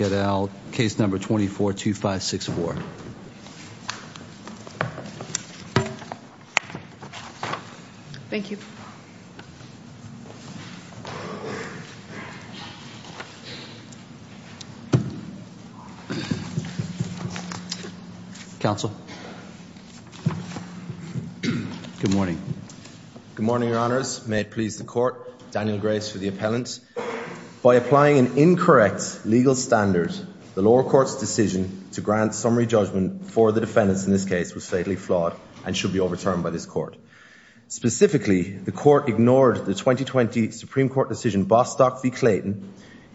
et al. Case No. 242564. Thank you. Counsel. Good morning. Good morning, your honors. May it please the court, Daniel Grace for the appellant. By applying an incorrect legal standard, the lower court's decision to grant summary judgment for the defendants in this case was fatally flawed and should be overturned by this court. Specifically, the court ignored the 2020 Supreme Court decision Bostock v. Clayton.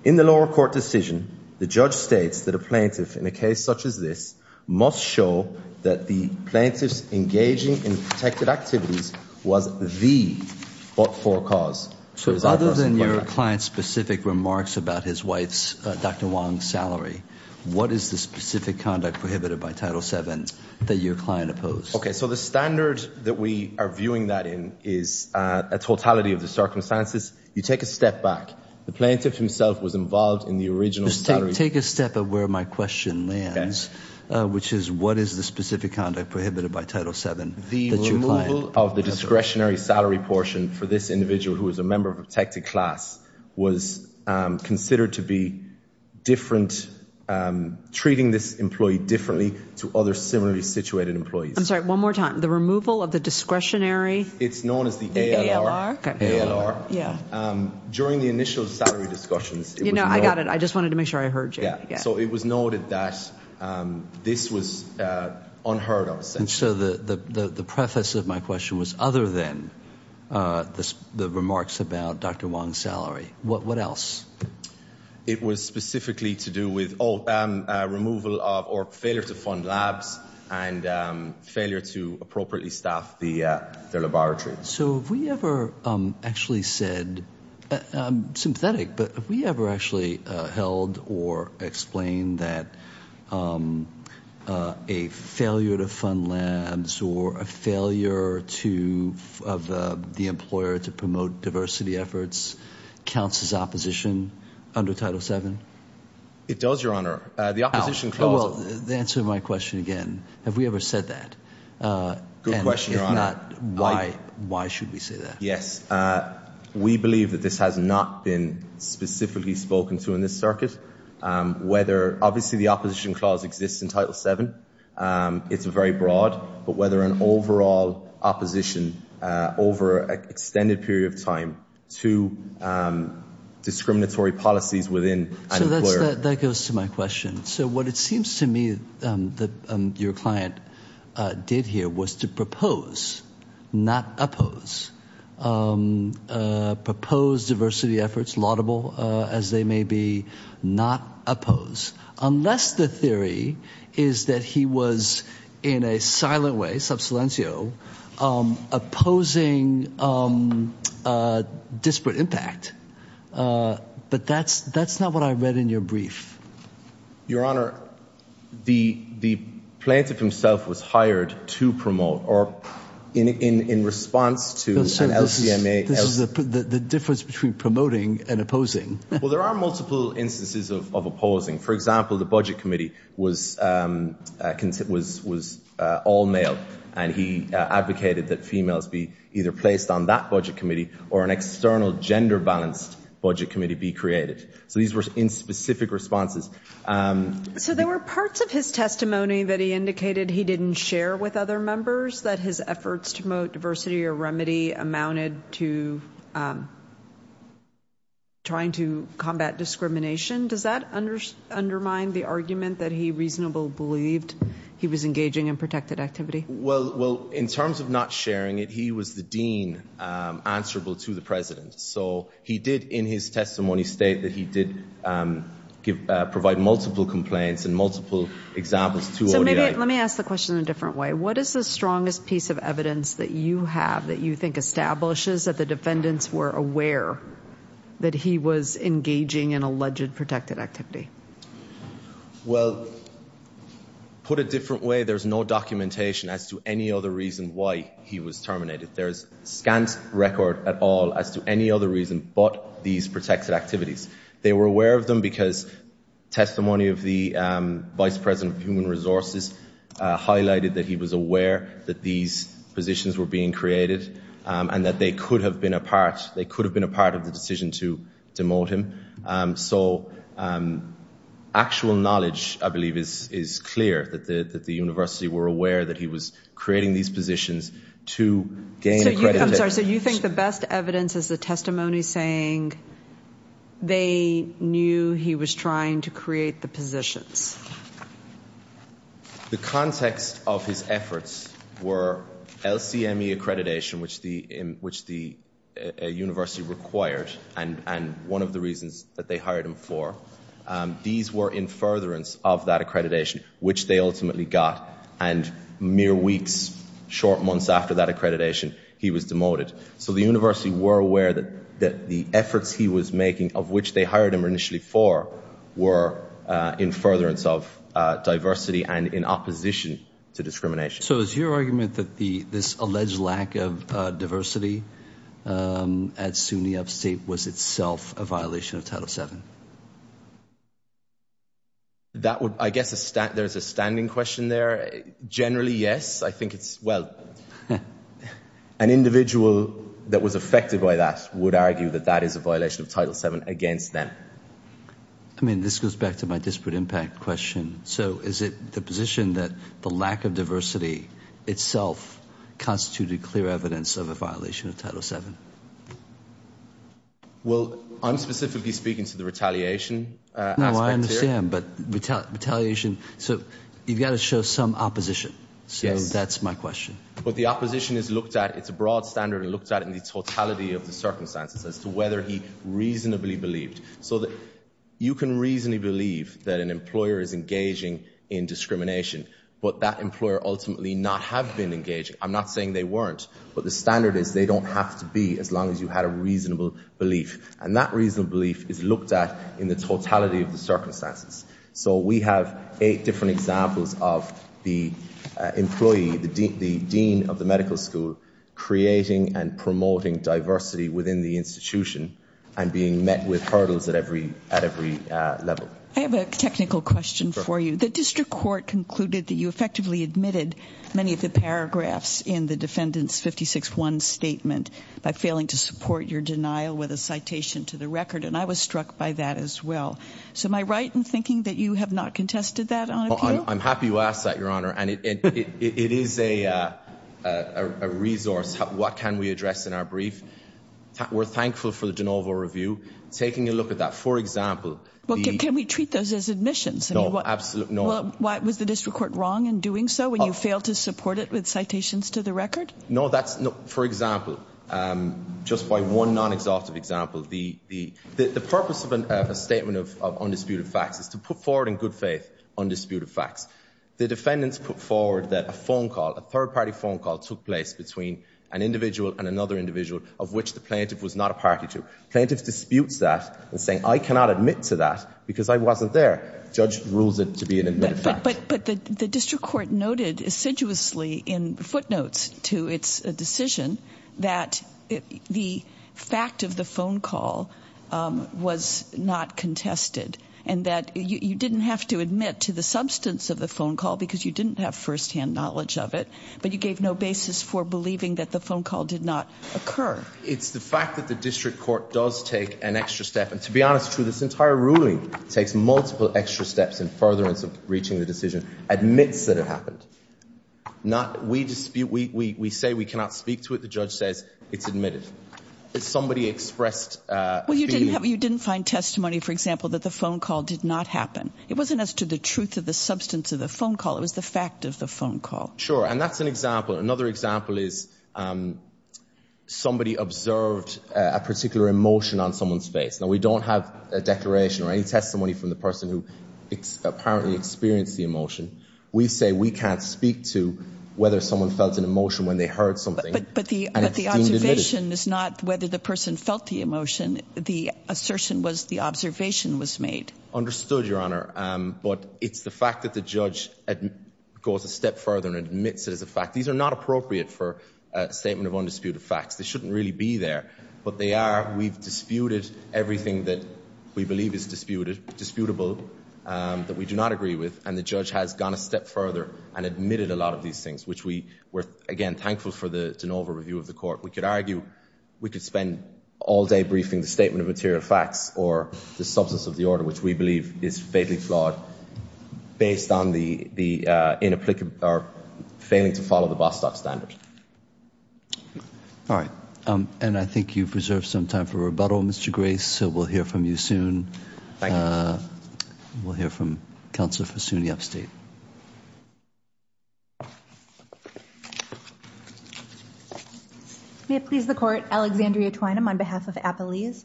In the lower court decision, the judge states that a plaintiff in a case such as this must show that the plaintiff's engaging in protected activities was the but Other than your client's specific remarks about his wife's, Dr. Wang's, salary, what is the specific conduct prohibited by Title VII that your client opposed? Okay, so the standard that we are viewing that in is a totality of the circumstances. You take a step back. The plaintiff himself was involved in the original salary. Take a step at where my question lands, which is what is the specific conduct prohibited by Title VII that your client opposed? The removal of the discretionary salary portion for this individual who is a member of a protected class was considered to be different, treating this employee differently to other similarly situated employees. I'm sorry, one more time. The removal of the discretionary? It's known as the ALR. During the initial salary discussions, it was noted that this was unheard of. And so the preface of my question was other than the remarks about Dr. Wang's salary. What else? It was specifically to do with removal of or failure to fund labs and failure to appropriately staff the laboratory. So have we ever actually said, I'm sympathetic, but have we ever actually held or explained that a failure to fund labs or a failure of the employer to promote diversity efforts counts as opposition under Title VII? It does, Your Honor. The opposition calls it. The answer to my question again, have we ever said that? Good question, Your Honor. And if not, why should we say that? Yes, we believe that this has not been specifically spoken to in this circuit. Obviously, the opposition clause exists in Title VII. It's very broad, but whether an overall opposition over an extended period of time to discriminatory policies within an employer. So that goes to my question. So what it seems to me that your client did here was to propose, not oppose. Propose diversity efforts, laudable as they may be, not oppose. Unless the theory is that he was in a silent way, sub silencio, opposing disparate impact. But that's not what I read in your brief. Your Honor, the plaintiff himself was hired to promote or in response to an LCMA. This is the difference between promoting and opposing. Well, there are multiple instances of opposing. For example, the Budget Committee was all male. And he advocated that females be either placed on that Budget Committee or an external gender balanced Budget Committee be created. So these were in specific responses. So there were parts of his testimony that he indicated he didn't share with other members that his efforts to promote diversity or remedy amounted to trying to combat discrimination. Does that undermine the argument that he reasonably believed he was engaging in protected activity? Well, in terms of not sharing it, he was the dean answerable to the president. So he did in his testimony state that he did provide multiple complaints and multiple examples to ODI. So let me ask the question in a different way. What is the strongest piece of evidence that you have that you think establishes that the defendants were aware that he was engaging in alleged protected activity? Well, put a different way, there's no documentation as to any other reason why he was terminated. There's scant record at all as to any other reason but these protected activities. They were aware of them because testimony of the vice president of human resources highlighted that he was aware that these positions were being created and that they could have been a part of the decision to demote him. So actual knowledge, I believe, is clear that the university were aware that he was creating these positions to gain accreditation. I'm sorry, so you think the best evidence is the testimony saying they knew he was trying to create the positions? The context of his efforts were LCME accreditation which the university required and one of the reasons that they hired him for. These were in furtherance of that accreditation which they ultimately got and mere weeks, short months after that accreditation, he was demoted. So the university were aware that the efforts he was making of which they hired him initially for were in furtherance of diversity and in opposition to discrimination. So is your argument that this alleged lack of diversity at SUNY Upstate was itself a violation of Title VII? That would, I guess, there's a standing question there. Generally, yes. I think it's, well, an individual that was affected by that would argue that that is a violation of Title VII against them. I mean, this goes back to my disparate impact question. So is it the position that the lack of diversity itself constituted clear evidence of a violation of Title VII? Well, I'm specifically speaking to the retaliation aspect here. No, I understand, but retaliation. So you've got to show some opposition. Yes. So that's my question. But the opposition is looked at, it's a broad standard and looked at in the totality of the circumstances as to whether he reasonably believed. So you can reasonably believe that an employer is engaging in discrimination but that employer ultimately not have been engaging. I'm not saying they weren't, but the standard is they don't have to be as long as you had a reasonable belief. And that reasonable belief is looked at in the totality of the circumstances. So we have eight different examples of the employee, the dean of the medical school creating and promoting diversity within the institution and being met with hurdles at every level. I have a technical question for you. The district court concluded that you effectively admitted many of the paragraphs in the defendant's 56-1 statement by failing to support your denial with a citation to the record and I was struck by that as well. So am I right in thinking that you have not contested that on appeal? I'm happy you asked that, Your Honor. And it is a resource. What can we address in our brief? We're thankful for the de novo review. Taking a look at that, for example, Can we treat those as admissions? No, absolutely not. Was the district court wrong in doing so when you failed to support it with citations to the record? No, that's not. For example, just by one non-exhaustive example, the purpose of a statement of undisputed facts is to put forward in good faith undisputed facts. The defendants put forward that a phone call, a third-party phone call took place between an individual and another individual of which the plaintiff was not a party to. Plaintiff disputes that and says, I cannot admit to that because I wasn't there. Judge rules it to be an admitted fact. But the district court noted assiduously in footnotes to its decision that the fact of the phone call was not contested and that you didn't have to admit to the substance of the phone call because you didn't have first-hand knowledge of it. But you gave no basis for believing that the phone call did not occur. It's the fact that the district court does take an extra step. And to be honest, this entire ruling takes multiple extra steps in furtherance of reaching the decision. Admits that it happened. We dispute, we say we cannot speak to it. The judge says it's admitted. If somebody expressed a feeling... Well, you didn't find testimony, for example, that the phone call did not happen. It wasn't as to the truth of the substance of the phone call. It was the fact of the phone call. Sure. And that's an example. Another example is somebody observed a particular emotion on someone's face. Now, we don't have a declaration or any testimony from the person who apparently experienced the emotion. We say we can't speak to whether someone felt an emotion when they heard something. But the observation is not whether the person felt the emotion. The assertion was the observation was made. Understood, Your Honor. But it's the fact that the judge goes a step further and admits it as a fact. These are not appropriate for a statement of undisputed facts. They shouldn't really be there. But they are. We've disputed everything that we believe is disputable that we do not agree with. And the judge has gone a step further and admitted a lot of these things, which we were, again, thankful for the de novo review of the court. We could argue we could spend all day briefing the statement of material facts or the substance of the order, which we believe is fatally flawed based on the inapplicable or failing to follow the Bostock standard. All right. And I think you've reserved some time for rebuttal, Mr. Grace. So we'll hear from you soon. Thank you. We'll hear from Counselor Fasuni of State. May it please the Court. Alexandria Twynam on behalf of Appalese.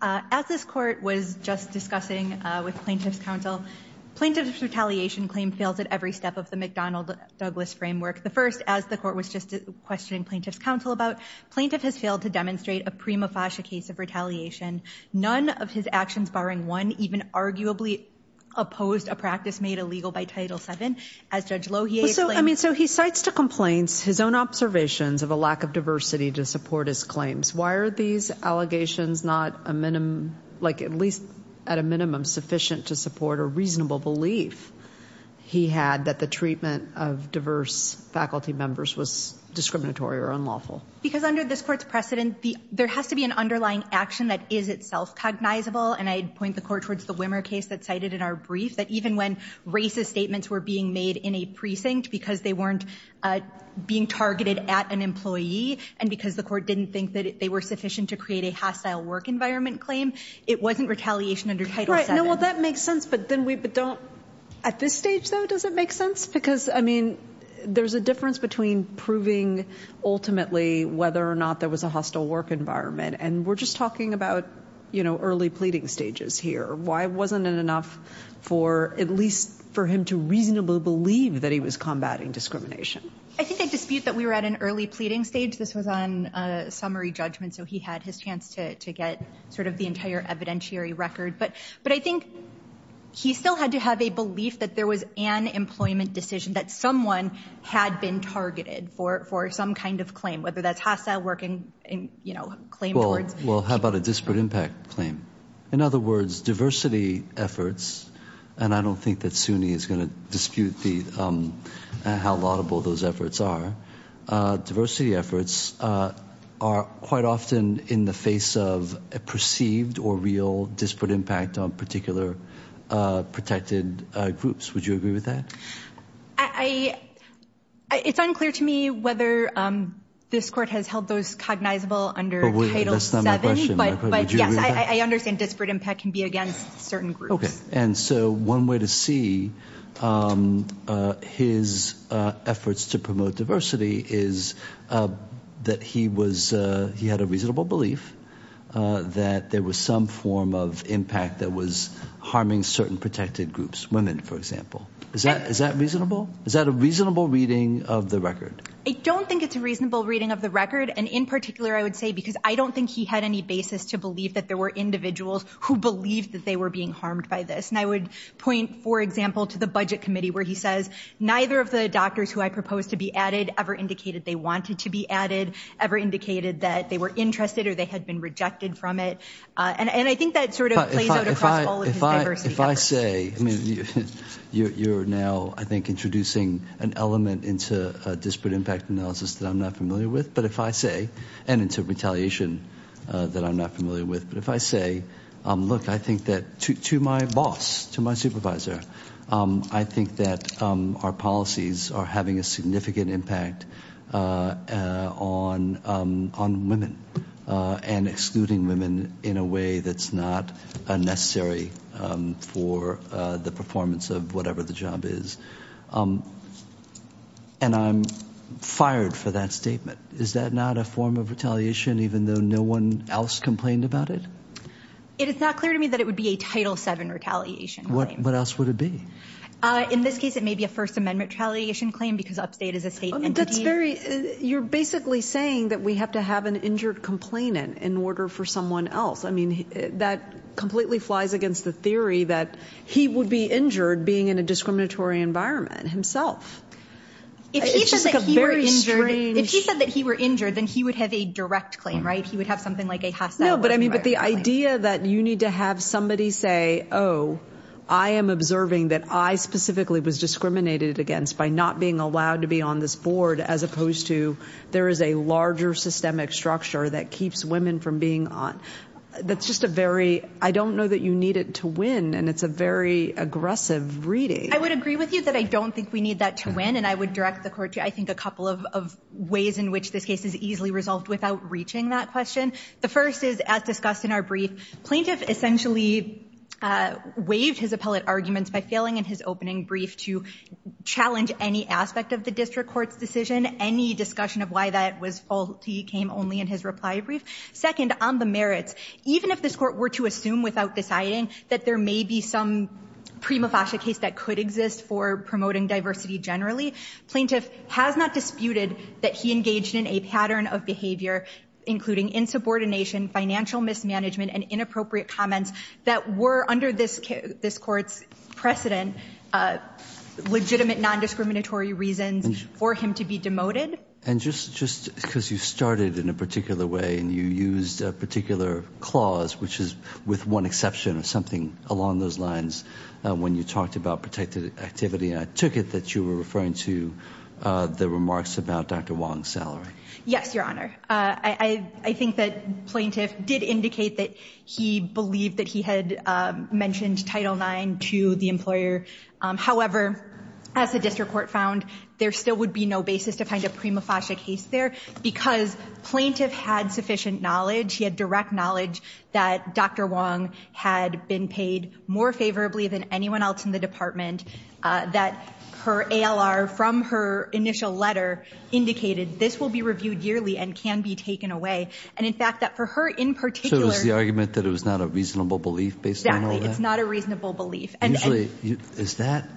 As this Court was just discussing with Plaintiff's Counsel, Plaintiff's retaliation claim fails at every step of the McDonnell-Douglas framework. The first, as the Court was just questioning Plaintiff's Counsel about, Plaintiff has failed to demonstrate a prima facie case of retaliation. None of his actions barring one or even arguably opposed a practice made illegal by Title VII. As Judge Lohier... So, I mean, so he cites to complaints his own observations of a lack of diversity to support his claims. Why are these allegations not a minimum, like at least at a minimum sufficient to support a reasonable belief he had that the treatment of diverse faculty members was discriminatory or unlawful? Because under this Court's precedent, there has to be an underlying action that is itself cognizable. And I'd point the Court towards the Wimmer case that's cited in our brief that even when racist statements were being made in a precinct because they weren't being targeted at an employee and because the Court didn't think that they were sufficient to create a hostile work environment claim, it wasn't retaliation under Title VII. Right. No, well, that makes sense. But then we... But don't... At this stage, though, does it make sense? Because, I mean, there's a difference between proving ultimately whether or not there was a hostile work environment. And we're just talking about, you know, early pleading stages here. Why wasn't it enough for... at least for him to reasonably believe that he was combating discrimination? I think the dispute that we were at an early pleading stage, this was on summary judgment, so he had his chance to get sort of the entire evidentiary record. But I think he still had to have a belief that there was an employment decision that someone had been targeted for some kind of claim, whether that's hostile work and, you know, claim towards... Well, how about a disparate impact claim? In other words, diversity efforts, and I don't think that SUNY is going to dispute the... how laudable those efforts are, diversity efforts are quite often in the face of a perceived or real disparate impact on particular protected groups. Would you agree with that? I... It's unclear to me whether this Court has held those cognizable under Title VII, but... That's not my question, But... But yes, I understand disparate impact can be against certain groups. and so one way to see his efforts to promote diversity is that he was... he had a reasonable belief that there was some form of impact that was harming certain protected groups, women, for example. Is that... Is that reasonable? Is that a reasonable reading of the record? I don't think it's a reasonable reading of the record, and in particular I would say because I don't think he had any basis to say to believe that there were individuals who believed that they were being harmed by this, and I would point, for example, to the Budget Committee where he says neither of the doctors who I proposed to be added ever indicated they wanted to be added, ever indicated that they were interested or they had been rejected from it, and I think that sort of plays out across all of his diversity efforts. If I say... I mean, you're now, I think, introducing an element into disparate impact analysis that I'm not familiar with, but if I say, and into retaliation that I'm not familiar with, but if I say, look, I think that to my boss, to my supervisor, I think that our policies are having a significant impact on women and excluding women in a way that's not necessary for the performance of whatever the job is, and I'm fired for that statement. Is that a reasonable Is that not a form of retaliation even though no one else complained about it? It is not clear to me that it would be a Title VII retaliation. What else would it be? In this case, it may be a First Amendment retaliation claim because Upstate is a state entity. That's very... You're basically saying that we have to have an injured complainant in order for someone else. I mean, that completely flies against the theory that he would be injured being in a discriminatory environment himself. It's just a very strange... If he said that he were injured, if he said that he were injured, then he would have a direct claim, right? He would have something like a hostile... No, but I mean, the idea that you need to have somebody say, oh, I am observing that I specifically was discriminated against by not being allowed to be on this board as opposed to there is a larger systemic structure that keeps women from being on... That's just a very... I don't know that you need it to win and it's a very aggressive reading. I would agree with you that I don't think we need that to win and I would direct the court to, I think, a couple of ways in which this case is easily resolved without reaching that question. The first is, as discussed in our brief, plaintiff essentially waived his appellate arguments by failing in his opening brief to challenge any aspect of the district court's decision. Any discussion of why that was faulty came only in his reply brief. Second, on the merits, even if this court were to assume without deciding that there may be some prima facie case that could exist for promoting diversity generally, plaintiff has not disputed that he engaged in a pattern of behavior, including insubordination, financial mismanagement, and inappropriate comments that were, under this court's precedent, legitimate non-discriminatory reasons for him to be demoted. And just because you started in a particular way and you used a particular clause, which is with one exception or something along those lines when you talked about protected activity, and I took it that you were referring to the remarks about Dr. Wong's salary. Yes, Your Honor. I think that plaintiff did indicate that he believed that he had mentioned Title IX to the employer. However, as the district court found, there still would be no basis to find a prima facie case there because plaintiff had sufficient knowledge, he had direct knowledge that Dr. Wong had been paid more favorably than anyone else in the department, that her ALR from her initial letter indicated, this will be reviewed yearly and can be taken away. And in fact, that for her in particular... So it was the argument that it was not a reasonable belief based on all that? Exactly. It's not a reasonable belief. Usually, is that,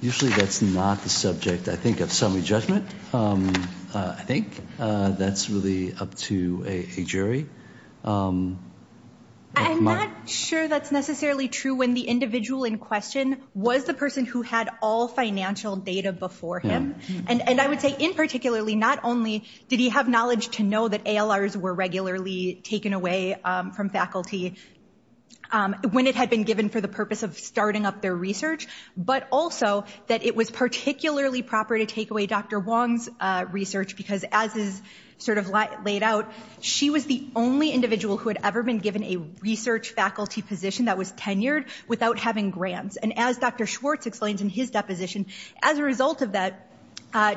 usually that's not the subject, I think, of summary judgment. I think that's really up to a jury. I'm not sure that's necessarily true when the individual in question was the person who had all financial data before him. And I would say, in particularly, not only did he have knowledge to know that ALRs were regularly taken away from faculty when it had been given for the purpose of starting up their research, but also that it was particularly proper to take away Dr. Wong's research because as is sort of laid out, she was the only individual who had ever been given a research faculty position that was tenured without having gotten grants. And as Dr. Schwartz explains in his deposition, as a result of that,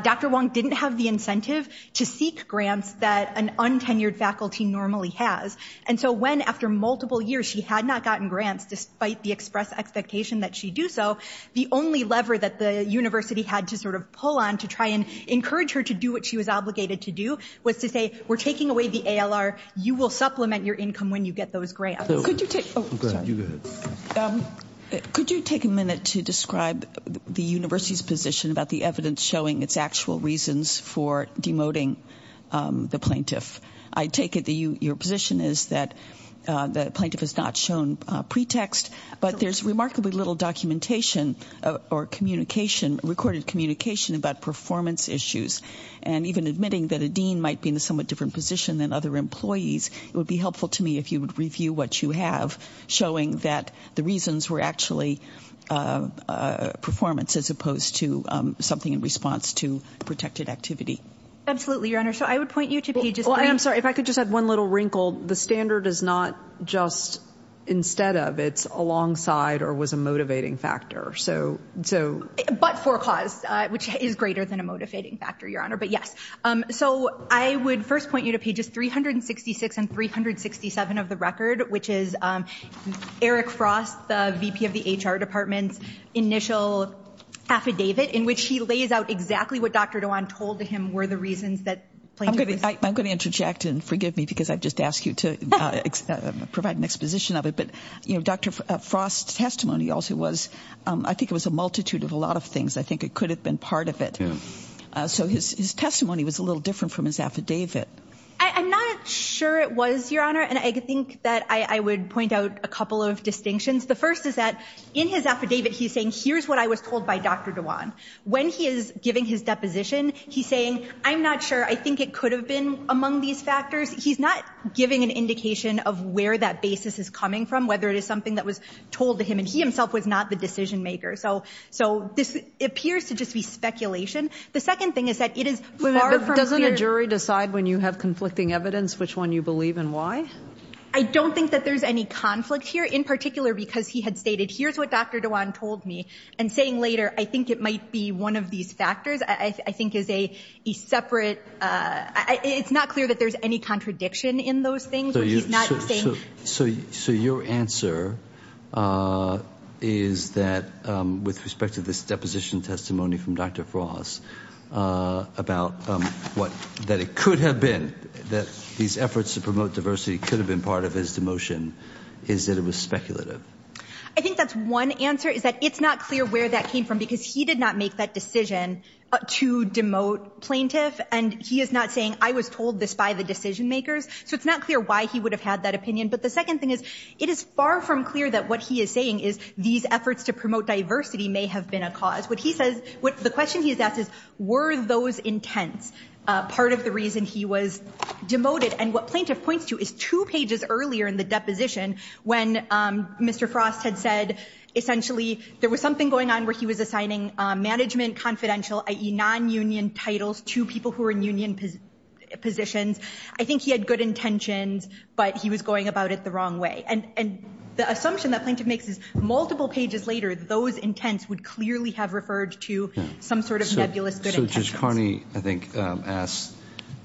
Dr. Wong didn't have the incentive to seek grants that an untenured faculty normally has. And so when, after multiple years, she had not gotten grants despite the express expectation that she do so, the only lever that the university had to sort of pull on to try and encourage her to do what she was obligated to do was to say, we're taking away the ALR, you will supplement your income when you get those grants. Could you take, oh, sorry. You go ahead. Could you take a minute to describe the university's position about the evidence showing its actual reasons for demoting the plaintiff? I take it that your position is that the plaintiff has not shown pretext, but there's remarkably little documentation or communication, recorded communication about performance issues. And even admitting that a dean might be in a somewhat different position than other employees, it would be helpful to me if you would review what you have showing that the reasons were actually performance, as opposed to something in response to protected activity. Absolutely, Your Honor. So I would point you to pages three. Well, I am sorry. If I could just add one little wrinkle. The standard is not just instead of. It's alongside or was a motivating factor. So, so. But for a cause, which is greater than a motivating factor, Your Honor. But yes. So I would first point you to pages 366 and 367 of the record, which is Eric Frum, Dr. Frost, the VP of the HR Department's initial affidavit, in which he lays out exactly what Dr. Dewan told him were the reasons that. I'm going to interject and forgive me because I've just asked you to provide an exposition of it. But, you know, Dr. Frost's testimony also was, I think it was a multitude of a lot of things. I think it could have been part of it. So his testimony was a little different from his affidavit. I'm not sure it was, Your Honor. And I think that I would point out a couple of distinctions. The first is that in his affidavit he's saying, here's what I was told by Dr. Dewan. When he is giving his deposition, he's saying, I'm not sure. I think it could have been among these factors. He's not giving an indication of where that basis is coming from, whether it is something that was told to him. And he himself was not the decision maker. So this appears to just be speculation. The second thing is that it is far from clear. But doesn't a jury decide when you have conflicting evidence which one you believe and why? I don't think that there's any conflict here. In particular, because he had stated, here's what Dr. Dewan told me. And saying later, I think it might be one of these factors I think is a separate, it's not clear that there's any contradiction in those things. But he's not saying. So your answer is that with respect to this deposition testimony from Dr. Frost, about what, that it could have been that these efforts to promote diversity could have been part of his demotion, is that it was speculative. I think that's one answer is that it's not clear where that came from because he did not make that decision to demote plaintiff. And he is not saying, I was told this by the decision makers. So it's not clear why he would have had that opinion. But the second thing is, it is far from clear that what he is saying is these efforts to promote diversity may have been a cause. What he says, the question he's asked is, were those intents part of the reason he was demoted? And what plaintiff points to is two pages earlier in the deposition when Mr. Frost had said, there was something going on where he was assigning management confidential, i.e. non-union titles to people who are in union positions. I think he had good intentions, but he was going about it the wrong way. And the assumption that plaintiff makes is multiple pages later, those intents would clearly have referred to some sort of nebulous good intentions. So Judge Carney, I think, asked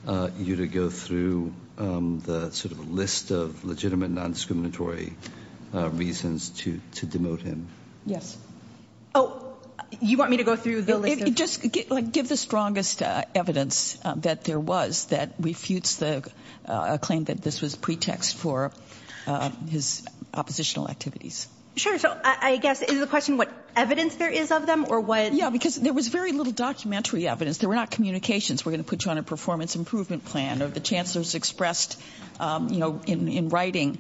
you to go through the sort of list of legitimate non-discriminatory reasons to demote him. Yes. Oh, you want me to go through the list of... Just give the strongest evidence that there was that refutes the claim that this was pretext for his oppositional activities. Sure. So I guess, is the question what evidence there is of them or what... Yeah, because there was very little documentary evidence. There were not communications. We're going to put you on a performance improvement plan or the Chancellor's expressed, you know, in writing,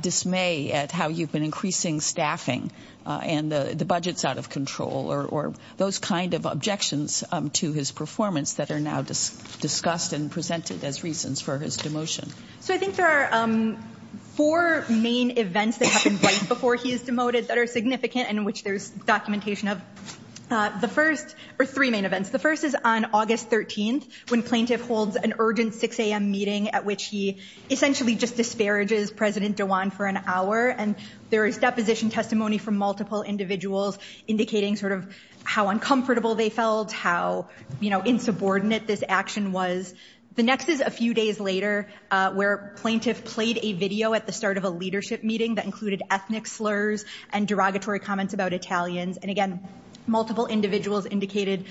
dismay at how you've been increasing staffing and the budget's out of control or those kind of objections to his performance that are now discussed and presented as reasons for his demotion. So I think there are four main events that happened right before he is demoted that are significant and in which there's documentation of. The first... Or three main events. The first is on August 13th when plaintiff holds an urgent 6 a.m. meeting at which he essentially just disparages President Dewan for an hour and there is deposition testimony from multiple individuals indicating sort of how uncomfortable they felt, how, you know, insubordinate this action was. The next is a few days later where plaintiff played a video at the start of a leadership meeting that included ethnic slurs and derogatory comments about Italians. And again, multiple individuals indicated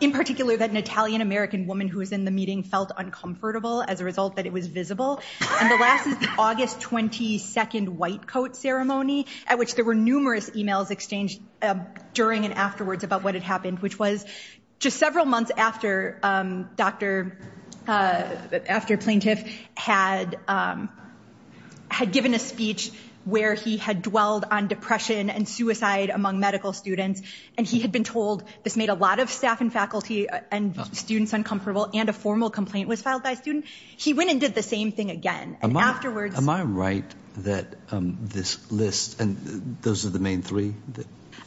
in particular that an Italian-American woman who was in the meeting felt uncomfortable as a result that it was visible. And the last is the August 22nd white coat ceremony at which there were numerous emails exchanged during and afterwards about what had happened which was just several months after doctor... after plaintiff had given a speech where he had dwelled on depression and suicide among medical students and he had been told this made a lot of staff and faculty and students uncomfortable and a formal complaint was filed by a student. He went and did the same thing again. And afterwards... Am I right that this list and those are the main three?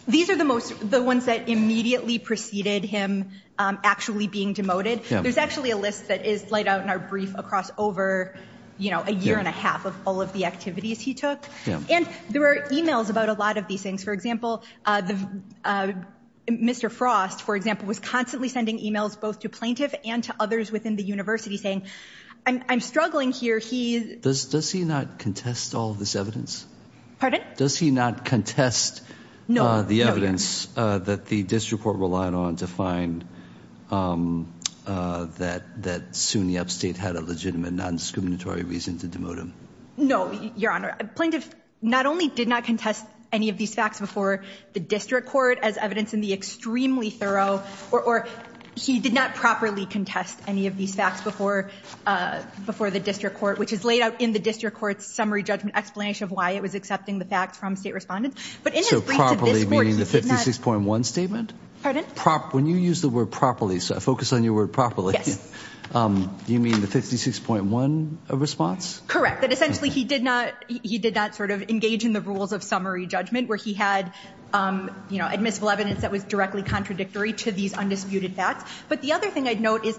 These are the most... the ones that immediately preceded him actually being demoted. There's actually a list that is laid out in our brief across over, you know, a year and a half of all of the activities he took. And there were emails about a lot of these things. For example, Mr. Frost, for example, was constantly sending emails both to plaintiff and to others within the university saying, I'm struggling here. He... Does he not contest all of this evidence? Pardon? Does he not contest the evidence that the district court relied on to find that SUNY Upstate had a legitimate non-discriminatory reason to demote him? No, Your Honor. Plaintiff not only did not contest any of these facts before the district court as evidence in the extremely thorough... or he did not properly contest any of these facts before the district court, which is laid out in the district court's summary judgment explanation of why it was accepting the facts from state respondents. But in his brief to this court, meaning the 56.1 statement? Pardon? When you use the word properly, so I focus on your word properly. Yes. You mean the 56.1 response? Correct. That essentially, he did not sort of engage in the rules of summary judgment where he had, you know, admissible evidence that was directly contradictory to these undisputed facts. But the other thing I'd note is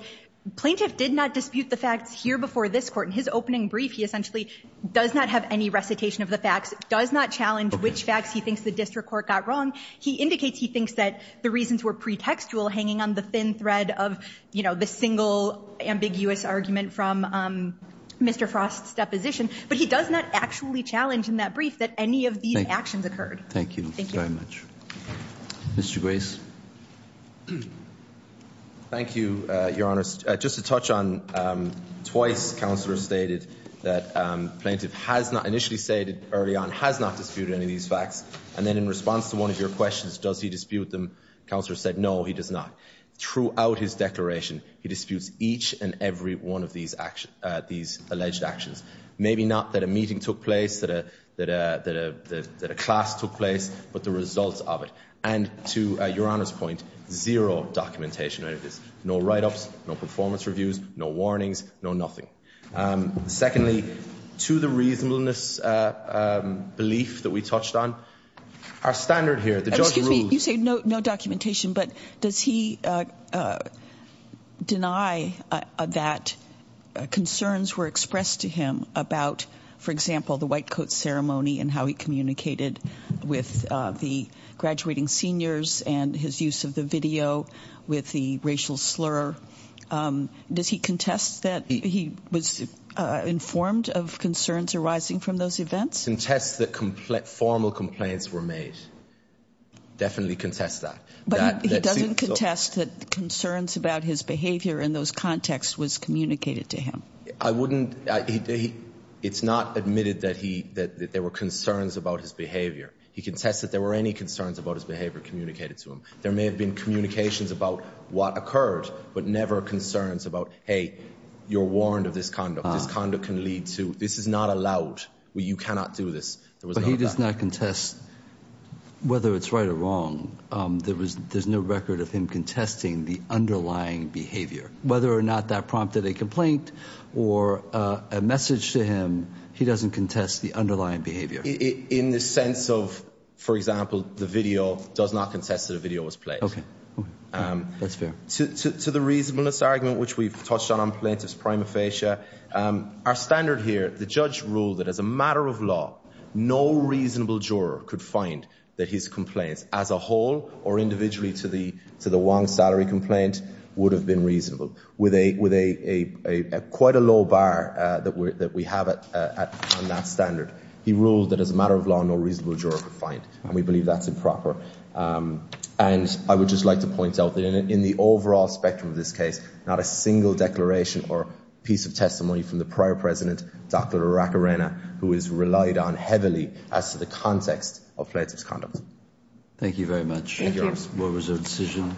plaintiff did not dispute the facts here before this court. In his opening brief, he essentially does not have any recitation of the facts, does not challenge which facts he thinks the district court got wrong. He indicates he thinks that the reasons were pretextual hanging on the thin thread of, you know, the single ambiguous argument from Mr. Frost's deposition. But he does not actually challenge in that brief that any of these actions occurred. Thank you. Thank you. Thank you very much. Mr. Grace? Thank you, Your Honor. Just to touch on, twice, counselor stated that plaintiff has not, initially stated early on, has not disputed any of these facts. And then in response to one of your questions, does he dispute them? Counselor said no, he does not. Throughout his declaration, he disputes each and every one of these alleged actions. Maybe not that a meeting took place, that a class took place, but the results of it. And to Your Honor, to Your Honor's point, zero documentation out of this. No write-ups, no performance reviews, no warnings, no nothing. Secondly, to the reasonableness belief that we touched on, our standard here, the judge rules. you say no documentation, but does he deny that concerns were expressed to him about, for example, the white coat ceremony and how he communicated with the graduating seniors and his use of the video with the racial slur? Does he contest that he was informed of concerns arising from those events? Contests that formal complaints were made. Definitely contests that. But he doesn't contest that concerns about his behavior in those contexts was communicated to him. I wouldn't, it's not admitted that there were concerns about his behavior. He contests that there were any concerns about his behavior communicated to him. There may have been communications about what occurred, but never concerns about, you're warned of this conduct. This conduct can lead to, this is not allowed. You cannot do this. But he does not contest whether it's right or wrong. There was, there's no record of him contesting the underlying behavior. Whether or not that prompted a complaint or a message to him, he doesn't contest the underlying behavior. In the sense of, for example, the video, does not contest that a video was played. That's fair. To the reasonableness argument, which we've touched on on plaintiff's prima facie, our standard here, the judge ruled that as a matter of law, no reasonable juror could find that his complaints as a whole or individually to the wrong salary complaint would have been reasonable. With a, quite a low bar that we have on that standard. He ruled that as a matter of law, no reasonable juror could find. And we believe that's improper. And I would just like to point out that in the overall spectrum of this case, not a single declaration or piece of testimony from the prior president, Dr. Aracarena, who has relied on heavily as to the context of plaintiff's conduct. Thank you very much. Thank you. What was your decision?